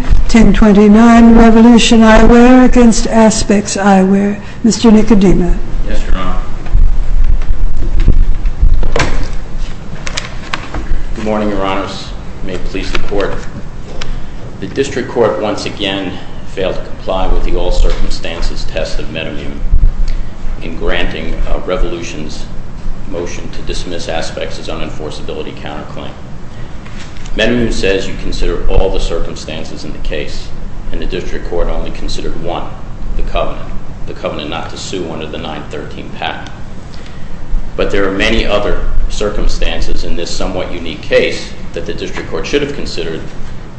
1029 Revolution Eyewear v. Aspex Eyewear. Mr. Nicodemus. Yes, Your Honor. Good morning, Your Honors. May it please the Court. The district court once again failed to comply with the all circumstances test of Metamune in granting a revolution's motion to dismiss Aspex's unenforceability counterclaim. Metamune says you consider all the circumstances in the case, and the district court only considered one, the covenant. The covenant not to sue under the 913 patent. But there are many other circumstances in this somewhat unique case that the district court should have considered,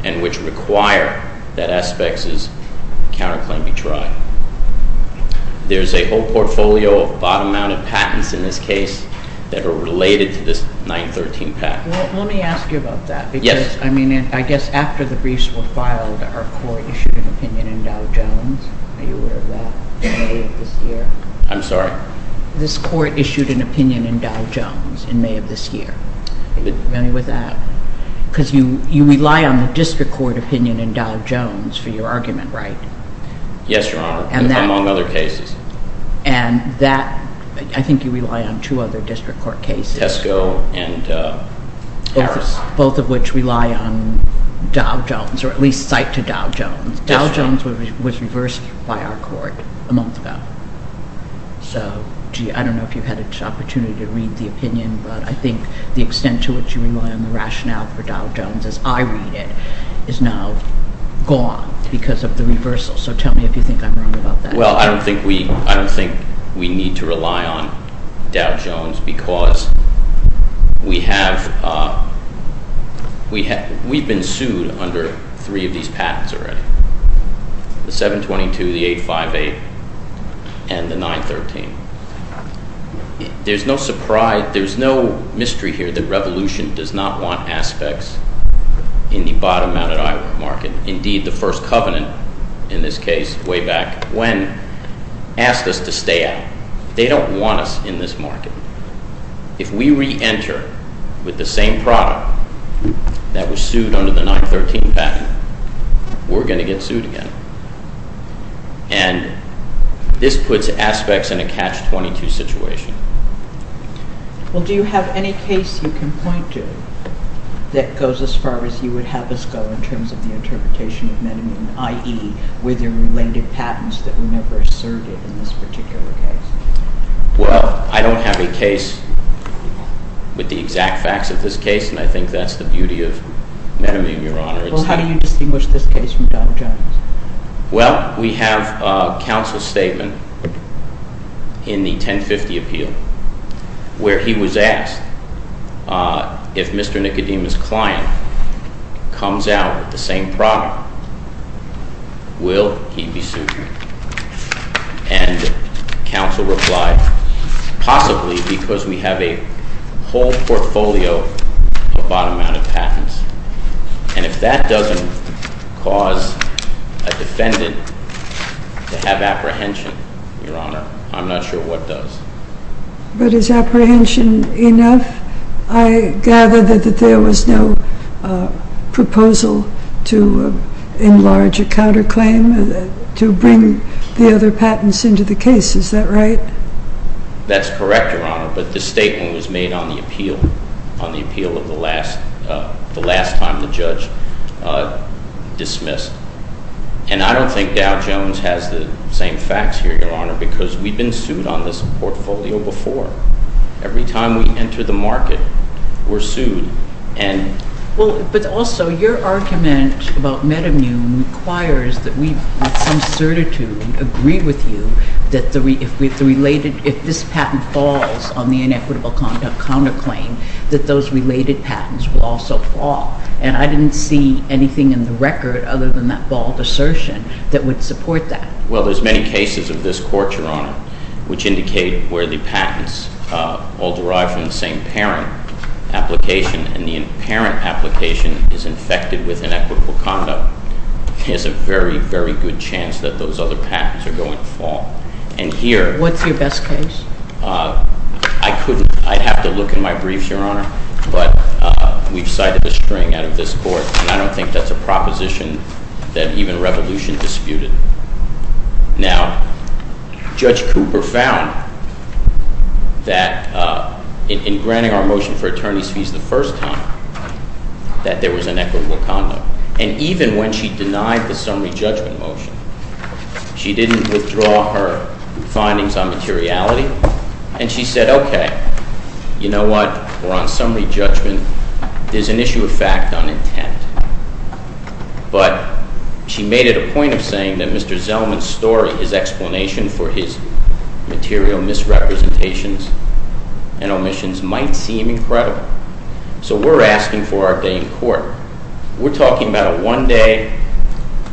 and which require that Aspex's counterclaim be tried. There's a whole portfolio of bottom-mounted patents in this case that are related to this 913 patent. Let me ask you about that. Yes. I mean, I guess after the briefs were filed, our court issued an opinion in Dow Jones. I know you were aware of that in May of this year. I'm sorry? This court issued an opinion in Dow Jones in May of this year. Are you familiar with that? Because you rely on the district court opinion in Dow Jones for your argument, right? Yes, Your Honor, among other cases. And that, I think you rely on two other district court cases. Tesco and Harris. Both of which rely on Dow Jones, or at least cite to Dow Jones. Dow Jones was reversed by our court a month ago. So gee, I don't know if you've had an opportunity to read the opinion. But I think the extent to which you rely on the rationale for Dow Jones, as I read it, is now gone because of the reversal. So tell me if you think I'm wrong about that. Well, I don't think we need to rely on Dow Jones, because we've been sued under three of these patents already. The 722, the 858, and the 913. There's no surprise, there's no mystery here that revolution does not want aspects in the bottom-mounted Iowa market. Indeed, the First Covenant, in this case, way back when, asked us to stay out. They don't want us in this market. If we re-enter with the same product that was sued under the 913 patent, we're going to get sued again. And this puts aspects in a catch-22 situation. Well, do you have any case you can point to that goes as far as you would have us go in terms of the interpretation of meninine, i.e., were there related patents that were never asserted in this particular case? Well, I don't have a case with the exact facts of this case, and I think that's the beauty of meninine, Your Honor. Well, how do you distinguish this case from Dow Jones? Well, we have a counsel statement in the 1050 appeal where he was asked if Mr. Nicodemus' client comes out with the same product, will he be sued? And counsel replied, possibly because we have a whole portfolio of bottom-mounted patents. And if that doesn't cause a defendant to have apprehension, Your Honor, I'm not sure what does. But is apprehension enough? I gather that there was no proposal to enlarge a counterclaim, to bring the other patents into the case. Is that right? That's correct, Your Honor. But the statement was made on the appeal of the last time the judge dismissed. And I don't think Dow Jones has the same facts here, Your Honor, because we've been sued on this portfolio before. Every time we enter the market, we're sued. Well, but also, your argument about metamune requires that we, with some certitude, agree with you that if this patent falls on the inequitable counterclaim, that those related patents will also fall. And I didn't see anything in the record, other than that bald assertion, that would support that. Well, there's many cases of this court, Your Honor, which indicate where the patents all derive from the same parent application. And the parent application is infected with inequitable conduct. There's a very, very good chance that those other patents are going to fall. And here, What's your best case? I couldn't. I'd have to look in my briefs, Your Honor. But we've cited a string out of this court. And I don't think that's a proposition that even revolution disputed. Now, Judge Cooper found that in granting our motion for attorney's fees the first time, that there was inequitable conduct. And even when she denied the summary judgment motion, she didn't withdraw her findings on materiality. And she said, OK, you know what? We're on summary judgment. There's an issue of fact on intent. But she made it a point of saying that Mr. Zellman's story, his explanation for his material misrepresentations and omissions might seem incredible. So we're asking for our day in court. We're talking about a one-day,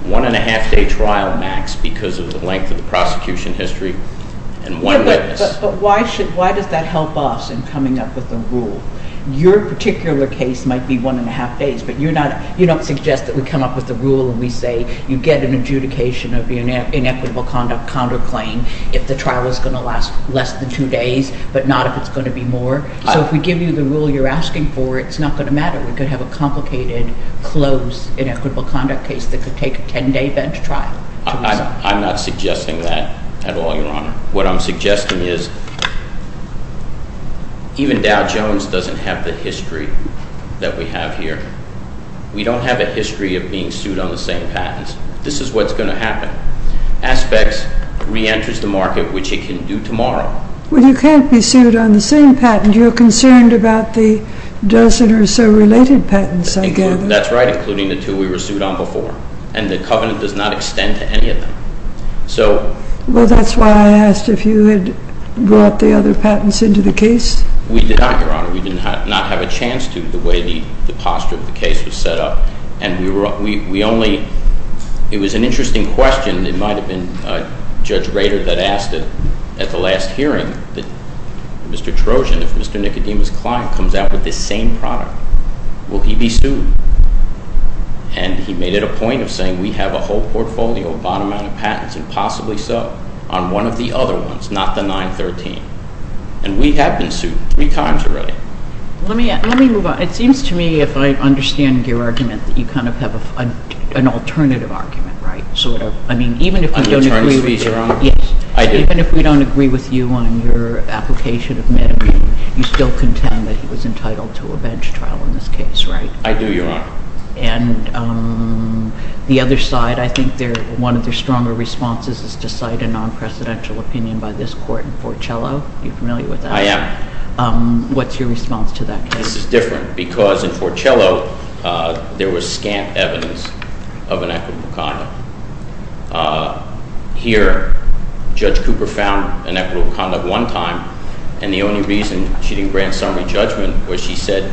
one-and-a-half-day trial max because of the length of the prosecution history, and one witness. But why does that help us in coming up with a rule? Your particular case might be one-and-a-half days. But you don't suggest that we come up with a rule and we say, you get an adjudication of the inequitable conduct counterclaim if the trial is going to last less than two days, but not if it's going to be more. So if we give you the rule you're asking for, it's not going to matter. We could have a complicated, close, inequitable conduct case that could take a 10-day bench trial. I'm not suggesting that at all, Your Honor. What I'm suggesting is even Dow Jones doesn't have the history that we have here. We don't have a history of being sued on the same patents. This is what's going to happen. Aspects reenters the market, which it can do tomorrow. Well, you can't be sued on the same patent. You're concerned about the dozen or so related patents, I gather. That's right, including the two we were sued on before. And the covenant does not extend to any of them. Well, that's why I asked if you had brought the other patents into the case. We did not, Your Honor. We did not have a chance to, the way the posture of the case was set up. And we only, it was an interesting question. It might have been Judge Rader that asked it at the last hearing. Mr. Trojan, if Mr. Nicodemus' client comes out with this same product, will he be sued? And he made it a point of saying, we have a whole portfolio of bottom-out of patents, and possibly so, on one of the other ones, not the 913. And we have been sued three times already. Let me move on. It seems to me, if I understand your argument, that you kind of have an alternative argument, right? Sort of. I mean, even if we don't agree with you on your application of Medicaid, you still contend that he was entitled to a bench trial in this case, right? I do, Your Honor. And the other side, I think one of their stronger responses is to cite a non-presidential opinion by this court in Fort Cello. Are you familiar with that? I am. What's your response to that case? This is different, because in Fort Cello, there was scant evidence of inequitable conduct. Here, Judge Cooper found inequitable conduct one time, and the only reason she didn't grant summary judgment was she said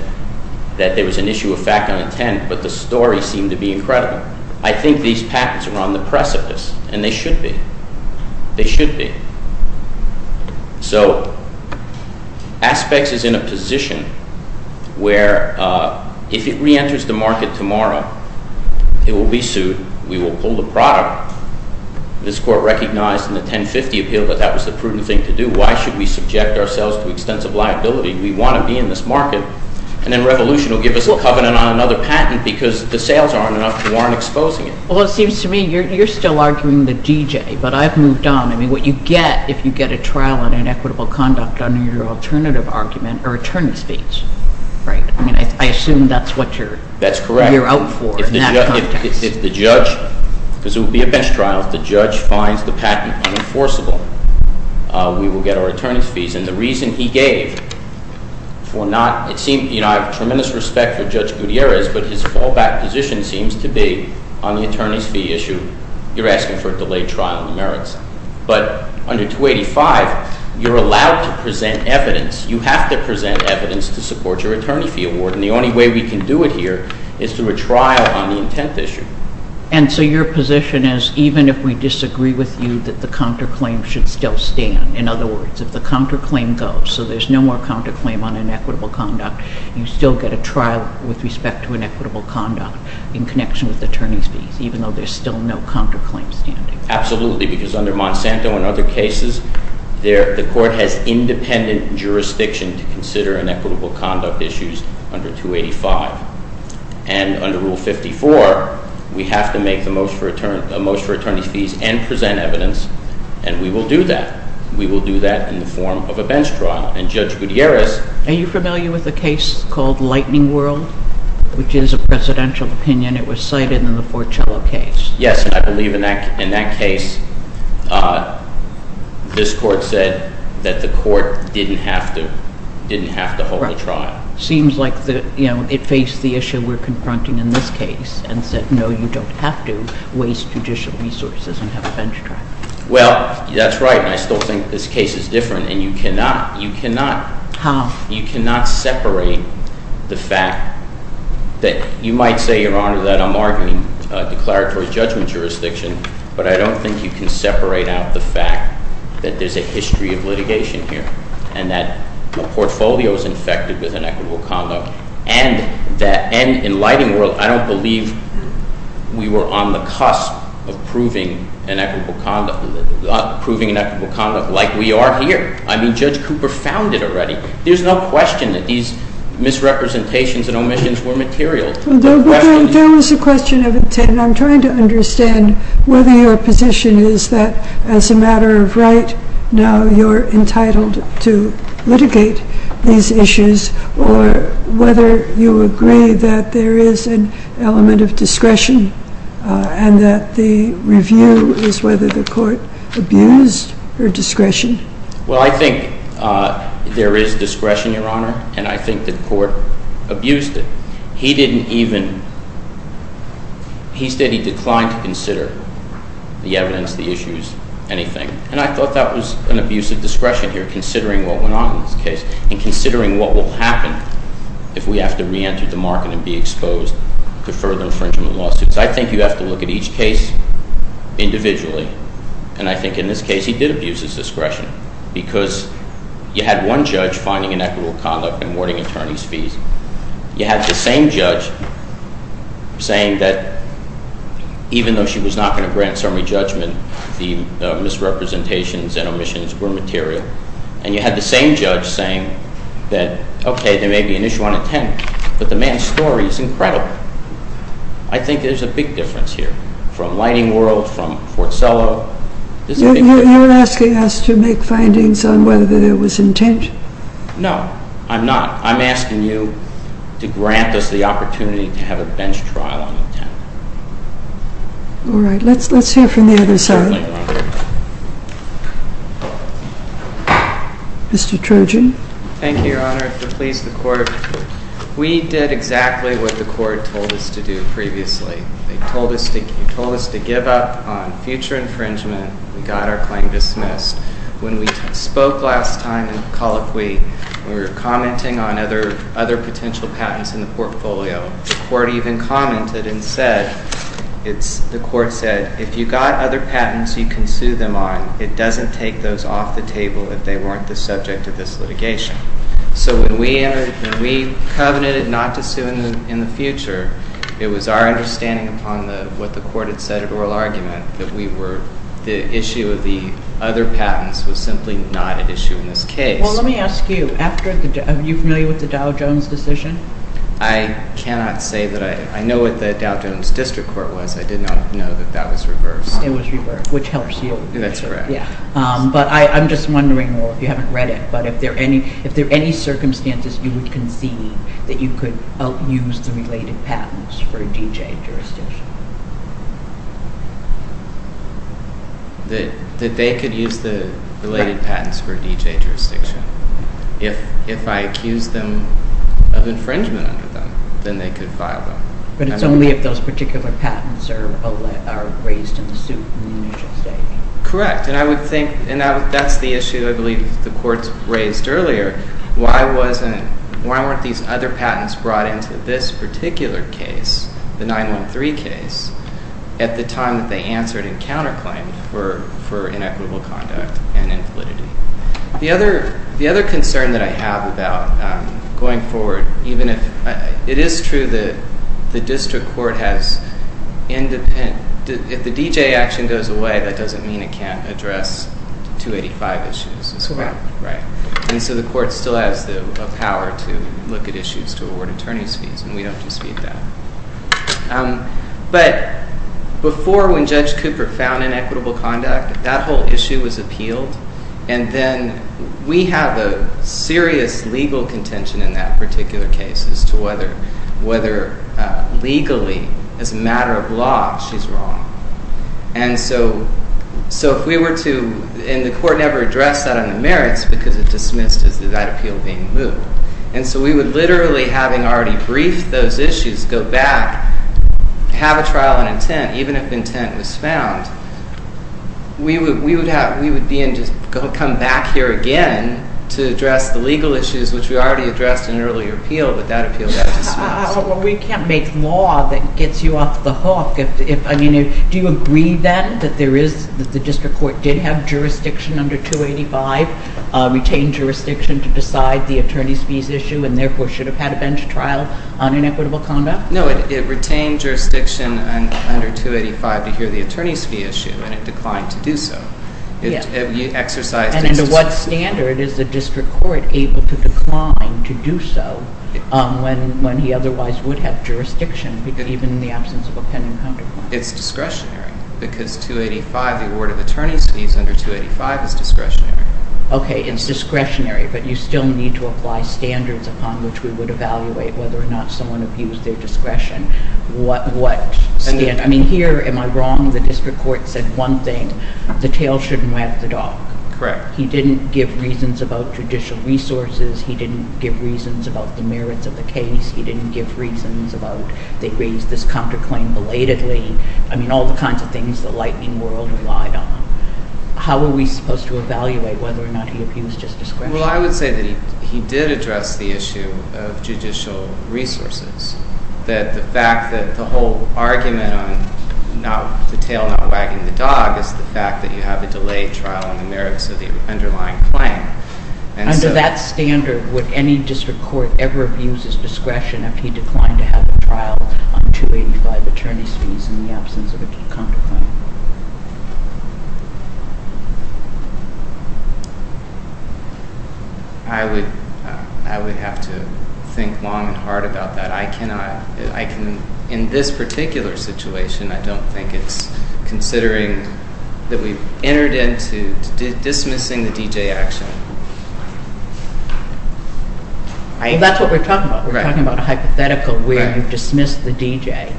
that there was an issue of fact and intent, but the story seemed to be incredible. I think these patents are on the precipice, and they should be. They should be. So Aspects is in a position where if it re-enters the market tomorrow, it will be sued. We will pull the product. This court recognized in the 1050 appeal that that was the prudent thing to do. Why should we subject ourselves to extensive liability? We want to be in this market, and then Revolution will give us a covenant on another patent because the sales aren't enough. You aren't exposing it. Well, it seems to me you're still arguing the DJ, but I've moved on. I mean, what you get if you get a trial on inequitable conduct under your alternative argument are attorney's fees, right? I mean, I assume that's what you're out for in that context. If the judge, because it would be a bench trial, if the judge finds the patent unenforceable, we will get our attorney's fees. And the reason he gave for not, it seemed, you know, I have tremendous respect for Judge Gutierrez, but his fallback position seems to be on the attorney's fee issue, you're asking for a delayed trial on the merits. But under 285, you're allowed to present evidence. You have to present evidence to support your attorney fee award, and the only way we can do it here is through a trial on the intent issue. And so your position is, even if we disagree with you, that the counterclaim should still stand. In other words, if the counterclaim goes, so there's no more counterclaim on inequitable conduct, you still get a trial with respect to inequitable conduct in connection with attorney's fees, even though there's still no counterclaim standing. Absolutely, because under Monsanto and other cases, the court has independent jurisdiction to consider inequitable conduct issues under 285. And under Rule 54, we have to make the most for attorney's fees and present evidence, and we will do that. We will do that in the form of a bench trial. And Judge Gutierrez. Are you familiar with the case called Lightning World, which is a presidential opinion? And it was cited in the Forcello case. Yes, and I believe in that case, this court said that the court didn't have to hold a trial. Seems like it faced the issue we're confronting in this case and said, no, you don't have to waste judicial resources and have a bench trial. Well, that's right. And I still think this case is different, and you cannot. You cannot. How? You cannot separate the fact that you might say, Your Honor, that I'm arguing declaratory judgment jurisdiction, but I don't think you can separate out the fact that there's a history of litigation here and that the portfolio is infected with inequitable conduct. And in Lightning World, I don't believe we were on the cusp of proving inequitable conduct like we are here. I mean, Judge Cooper found it already. There's no question that these misrepresentations and omissions were material. There was a question of intent, and I'm trying to understand whether your position is that, as a matter of right, now you're entitled to litigate these issues, or whether you agree that there is an element of discretion and that the review is whether the court abused her discretion. Well, I think there is discretion, Your Honor, and I think the court abused it. He stated he declined to consider the evidence, the issues, anything. And I thought that was an abuse of discretion here, considering what went on in this case and considering what will happen if we have to reenter the market and be exposed to further infringement lawsuits. I think you have to look at each case individually, and I think in this case he did abuse his discretion because you had one judge finding inequitable conduct and awarding attorneys fees. You had the same judge saying that even though she was not going to grant summary judgment, the misrepresentations and omissions were material. And you had the same judge saying that, OK, there may be an issue on intent, but the man's story is incredible. I think there's a big difference here, from Lighting World, from Fort Sello. You're asking us to make findings on whether there was intent? No, I'm not. I'm asking you to grant us the opportunity to have a bench trial on intent. All right, let's hear from the other side. Mr. Trojan. Thank you, Your Honor. To please the court, we did exactly what the court told us to do previously. They told us to give up on future infringement. We got our claim dismissed. When we spoke last time in the colloquy, we were commenting on other potential patents in the portfolio. The court even commented and said, the court said, if you got other patents, you can sue them on. It doesn't take those off the table if they weren't the subject of this litigation. So when we covenanted not to sue in the future, it was our understanding upon what the court had said at oral argument that the issue of the other patents was simply not an issue in this case. Well, let me ask you, are you familiar with the Dow Jones decision? I cannot say that I know what the Dow Jones district court was. I did not know that that was reversed. It was reversed, which helps you. That's correct. But I'm just wondering, if you haven't read it, but if there are any circumstances you would concede that you could use the related patents for a DJ jurisdiction? That they could use the related patents for a DJ jurisdiction. If I accuse them of infringement under them, then they could file them. But it's only if those particular patents are raised in the suit in the initial stating. And I would think that's the issue, I believe, the courts raised earlier. Why weren't these other patents brought into this particular case, the 913 case, at the time that they answered in counterclaim for inequitable conduct and inflicted it? The other concern that I have about going forward, even if it is true that the district court has independent, if the DJ action goes away, that doesn't mean it can't address 285 issues as well, right? And so the court still has the power to look at issues to award attorney's fees, and we don't dispute that. But before when Judge Cooper found inequitable conduct, that whole issue was appealed. And then we have a serious legal contention in that particular case as to whether legally, as a matter of law, she's wrong. And so if we were to, and the court never addressed that on the merits because it dismissed as that appeal being moved. And so we would literally, having already briefed those issues, go back, have a trial on intent, even if intent was found. We would be and just come back here again to address the legal issues, which we already addressed in an earlier appeal, but that appeal got dismissed. Well, we can't make law that gets you off the hook. Do you agree, then, that the district court did have jurisdiction under 285, retained jurisdiction to decide the attorney's fees issue, and therefore should have had a bench trial on inequitable conduct? No, it retained jurisdiction under 285 to hear the attorney's fee issue, and it declined to do so. It exercised its discretion. And under what standard is the district court able to decline to do so when he otherwise would have jurisdiction, even in the absence of a pending counterclaim? It's discretionary, because 285, the award of attorney's fees under 285 is discretionary. OK, it's discretionary, but you still need to apply standards upon which we would evaluate whether or not someone abused their discretion. What standard? I mean, here, am I wrong? The district court said one thing, the tail shouldn't wag the dog. Correct. He didn't give reasons about judicial resources. He didn't give reasons about the merits of the case. He didn't give reasons about they raised this counterclaim belatedly. I mean, all the kinds of things the lightning world relied on. How are we supposed to evaluate whether or not he abused his discretion? Well, I would say that he did address the issue of judicial resources, that the fact that the whole argument on the tail not wagging the dog is the fact that you have a delayed trial on the merits of the underlying claim. Under that standard, would any district court ever abuse his discretion if he declined to have a trial on 285 attorney's fees in the absence of a counterclaim? I would have to think long and hard about that. I cannot. In this particular situation, I don't think it's considering that we've entered into dismissing the DJ action. Well, that's what we're talking about. We're talking about a hypothetical where you've dismissed the DJ,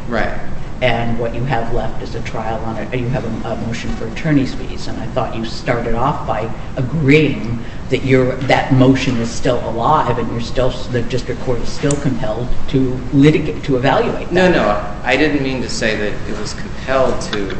and what you have left is a trial on attorney's fees. You have a motion for attorney's fees, and I thought you started off by agreeing that that motion is still alive, and the district court is still compelled to litigate, to evaluate that. No, no. I didn't mean to say that it was compelled to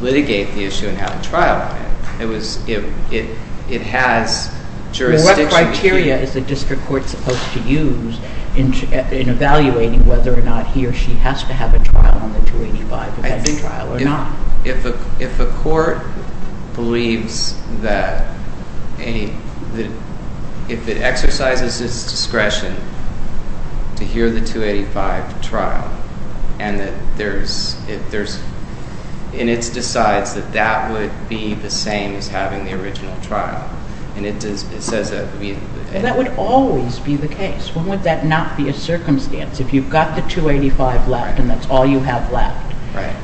litigate the issue and have a trial. It has jurisdiction. Well, what criteria is the district court supposed to use in evaluating whether or not he or she has to have a trial on the 285 or has a trial or not? If a court believes that, if it exercises its discretion to hear the 285 trial, and it decides that that would be the same as having the original trial, and it says that would be the case. That would always be the case. When would that not be a circumstance? If you've got the 285 left, and that's all you have left.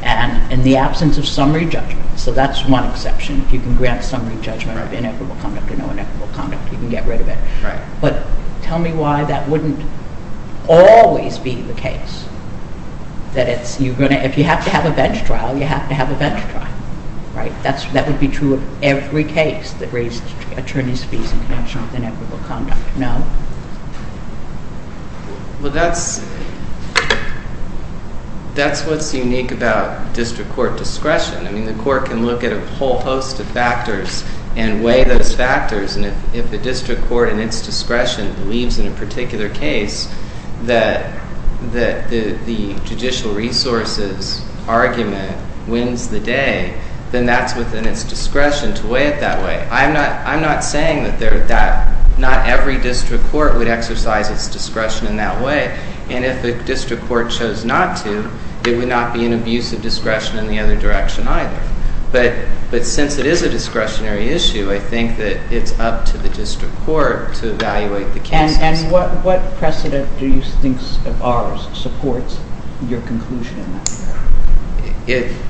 And in the absence of summary judgment, so that's one exception. If you can grant summary judgment of inequitable conduct or no inequitable conduct, you can get rid of it. But tell me why that wouldn't always be the case, that if you have to have a bench trial, you have to have a bench trial. That would be true of every case that raised attorney's fees in connection with inequitable conduct. No? Well, that's what's unique about district court discretion. I mean, the court can look at a whole host of factors and weigh those factors. And if the district court, in its discretion, believes in a particular case that the judicial resources argument wins the day, then that's within its discretion to weigh it that way. I'm not saying that not every district court would exercise its discretion in that way. And if the district court chose not to, it would not be an abuse of discretion in the other direction either. But since it is a discretionary issue, I think that it's up to the district court to evaluate the cases. And what precedent do you think of ours supports your conclusion in that regard?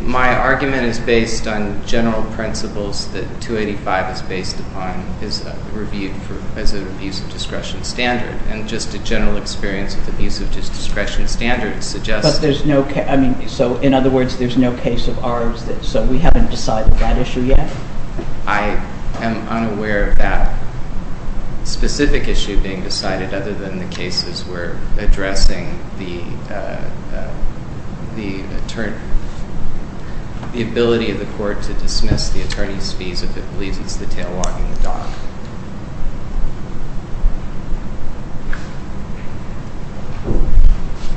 My argument is based on general principles that 285 is based upon, is reviewed as an abuse of discretion standard. And just a general experience with abuse of discretion standards suggests that there's no case. So in other words, there's no case of ours that, so we haven't decided that issue yet? I am unaware of that specific issue being decided, other than the cases where addressing the ability of the court to dismiss the attorney's fees if it believes it's the tail wagging the dog.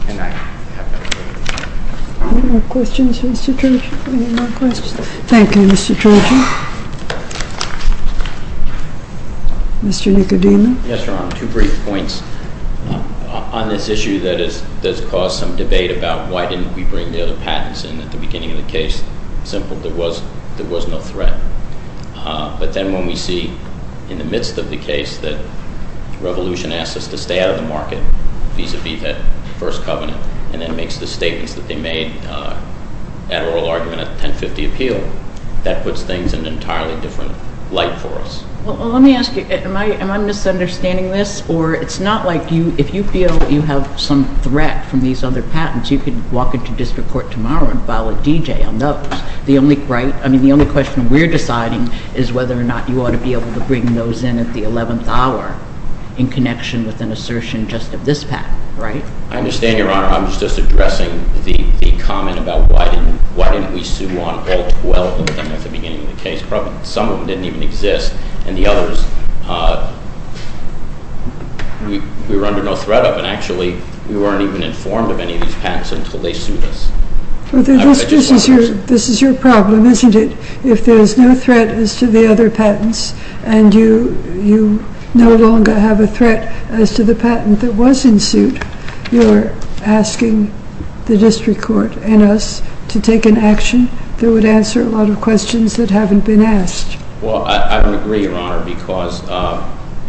And I have nothing to add. Any more questions, Mr. Turgeon? Any more questions? Thank you, Mr. Turgeon. Mr. Nicodino? Yes, Your Honor, two brief points. On this issue that has caused some debate about why didn't we bring the other patents in at the beginning of the case, simple, there was no threat. But then when we see in the midst of the case that Revolution asks us to stay out of the market vis-a-vis that First Covenant, and then makes the statements that they made at oral argument at the 1050 appeal, that puts things in an entirely different light for us. Well, let me ask you, am I misunderstanding this? Or it's not like you, if you feel that you have some threat from these other patents, you could walk into district court tomorrow and file a DJ on those. The only question we're deciding is whether or not you ought to be able to bring those in at the 11th hour in connection with an assertion just of this patent, right? I understand, Your Honor. I'm just addressing the comment about why didn't we sue on all 12 of them at the beginning of the case. Probably some of them didn't even exist. And the others, we were under no threat of. And actually, we weren't even informed of any of these patents until they sued us. This is your problem, isn't it? If there's no threat as to the other patents, and you no longer have a threat as to the patent that was in suit, you're asking the district court and us to take an action that would answer a lot of questions that haven't been asked. Well, I don't agree, Your Honor, because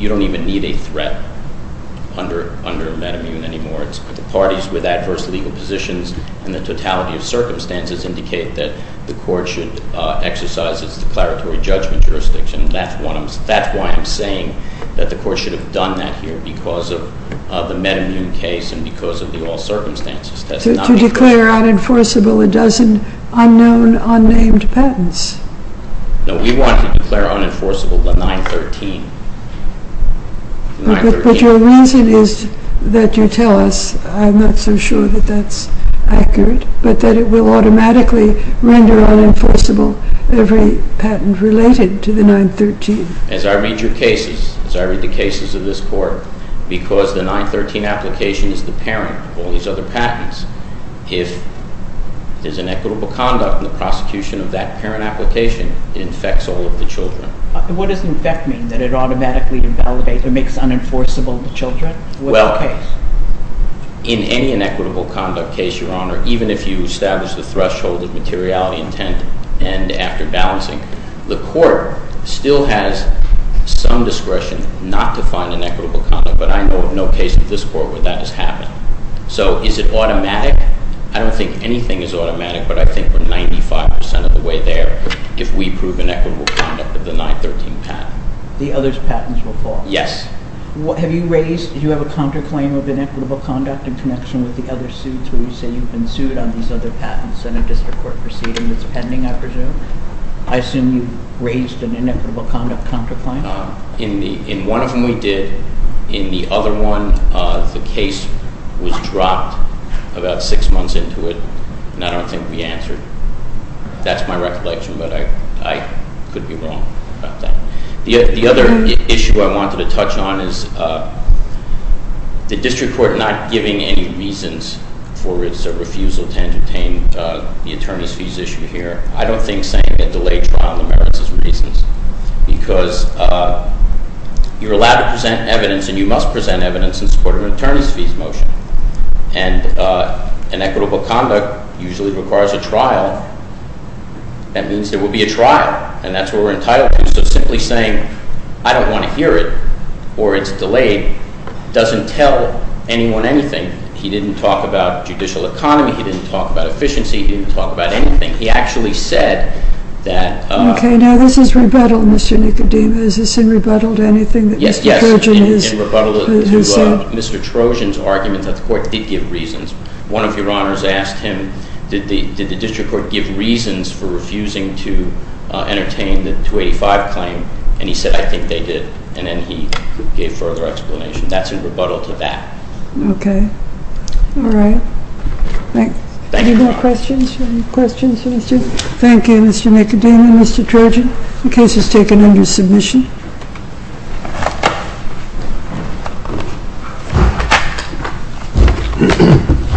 you don't even need a threat under MedImmune anymore. It's the parties with adverse legal positions and the totality of circumstances indicate that the court should exercise its declaratory judgment jurisdiction. That's why I'm saying that the court should have done that here because of the MedImmune case and because of the all circumstances test. To declare unenforceable a dozen unknown, unnamed patents. No, we want to declare unenforceable the 913. But your reason is that you tell us, I'm not so sure that that's accurate, but that it will automatically render unenforceable every patent related to the 913. As I read your cases, as I read the cases of this court, because the 913 application is the parent an equitable conduct in the prosecution of that parent application, it infects all of the children. What does infect mean? That it automatically invalidates or makes unenforceable the children? Well, in any inequitable conduct case, Your Honor, even if you establish the threshold of materiality intent and after balancing, the court still has some discretion not to find inequitable conduct. But I know of no case in this court where that has happened. So is it automatic? I don't think anything is automatic, but I think we're 95% of the way there if we prove inequitable conduct of the 913 patent. The others' patents will fall? Yes. Have you raised, do you have a counterclaim of inequitable conduct in connection with the other suits where you say you've been sued on these other patents and a district court proceeding that's pending, I presume? I assume you've raised an inequitable conduct counterclaim? In one of them, we did. In the other one, the case was dropped about six months into it. And I don't think we answered. That's my recollection, but I could be wrong about that. The other issue I wanted to touch on is the district court not giving any reasons for its refusal to entertain the attorney's fees issue here. I don't think saying a delayed trial merits its reasons because you're allowed to present evidence and you must present evidence in support of an attorney's fees motion. And inequitable conduct usually requires a trial. That means there will be a trial and that's what we're entitled to. So simply saying, I don't want to hear it, or it's delayed, doesn't tell anyone anything. He didn't talk about judicial economy. He didn't talk about efficiency. He didn't talk about anything. He actually said that- Okay, now this is rebuttal, Mr. Nicodemus. Is this in rebuttal to anything that Mr. Trojan has said? Mr. Trojan's argument that the court did give reasons. One of your honors asked him, did the district court give reasons for refusing to entertain the 285 claim? And he said, I think they did. And then he gave further explanation. That's in rebuttal to that. Okay. All right. Thanks. Any more questions? Questions for Mr.? Thank you, Mr. Nicodemus and Mr. Trojan. The case is taken under submission. Thank you.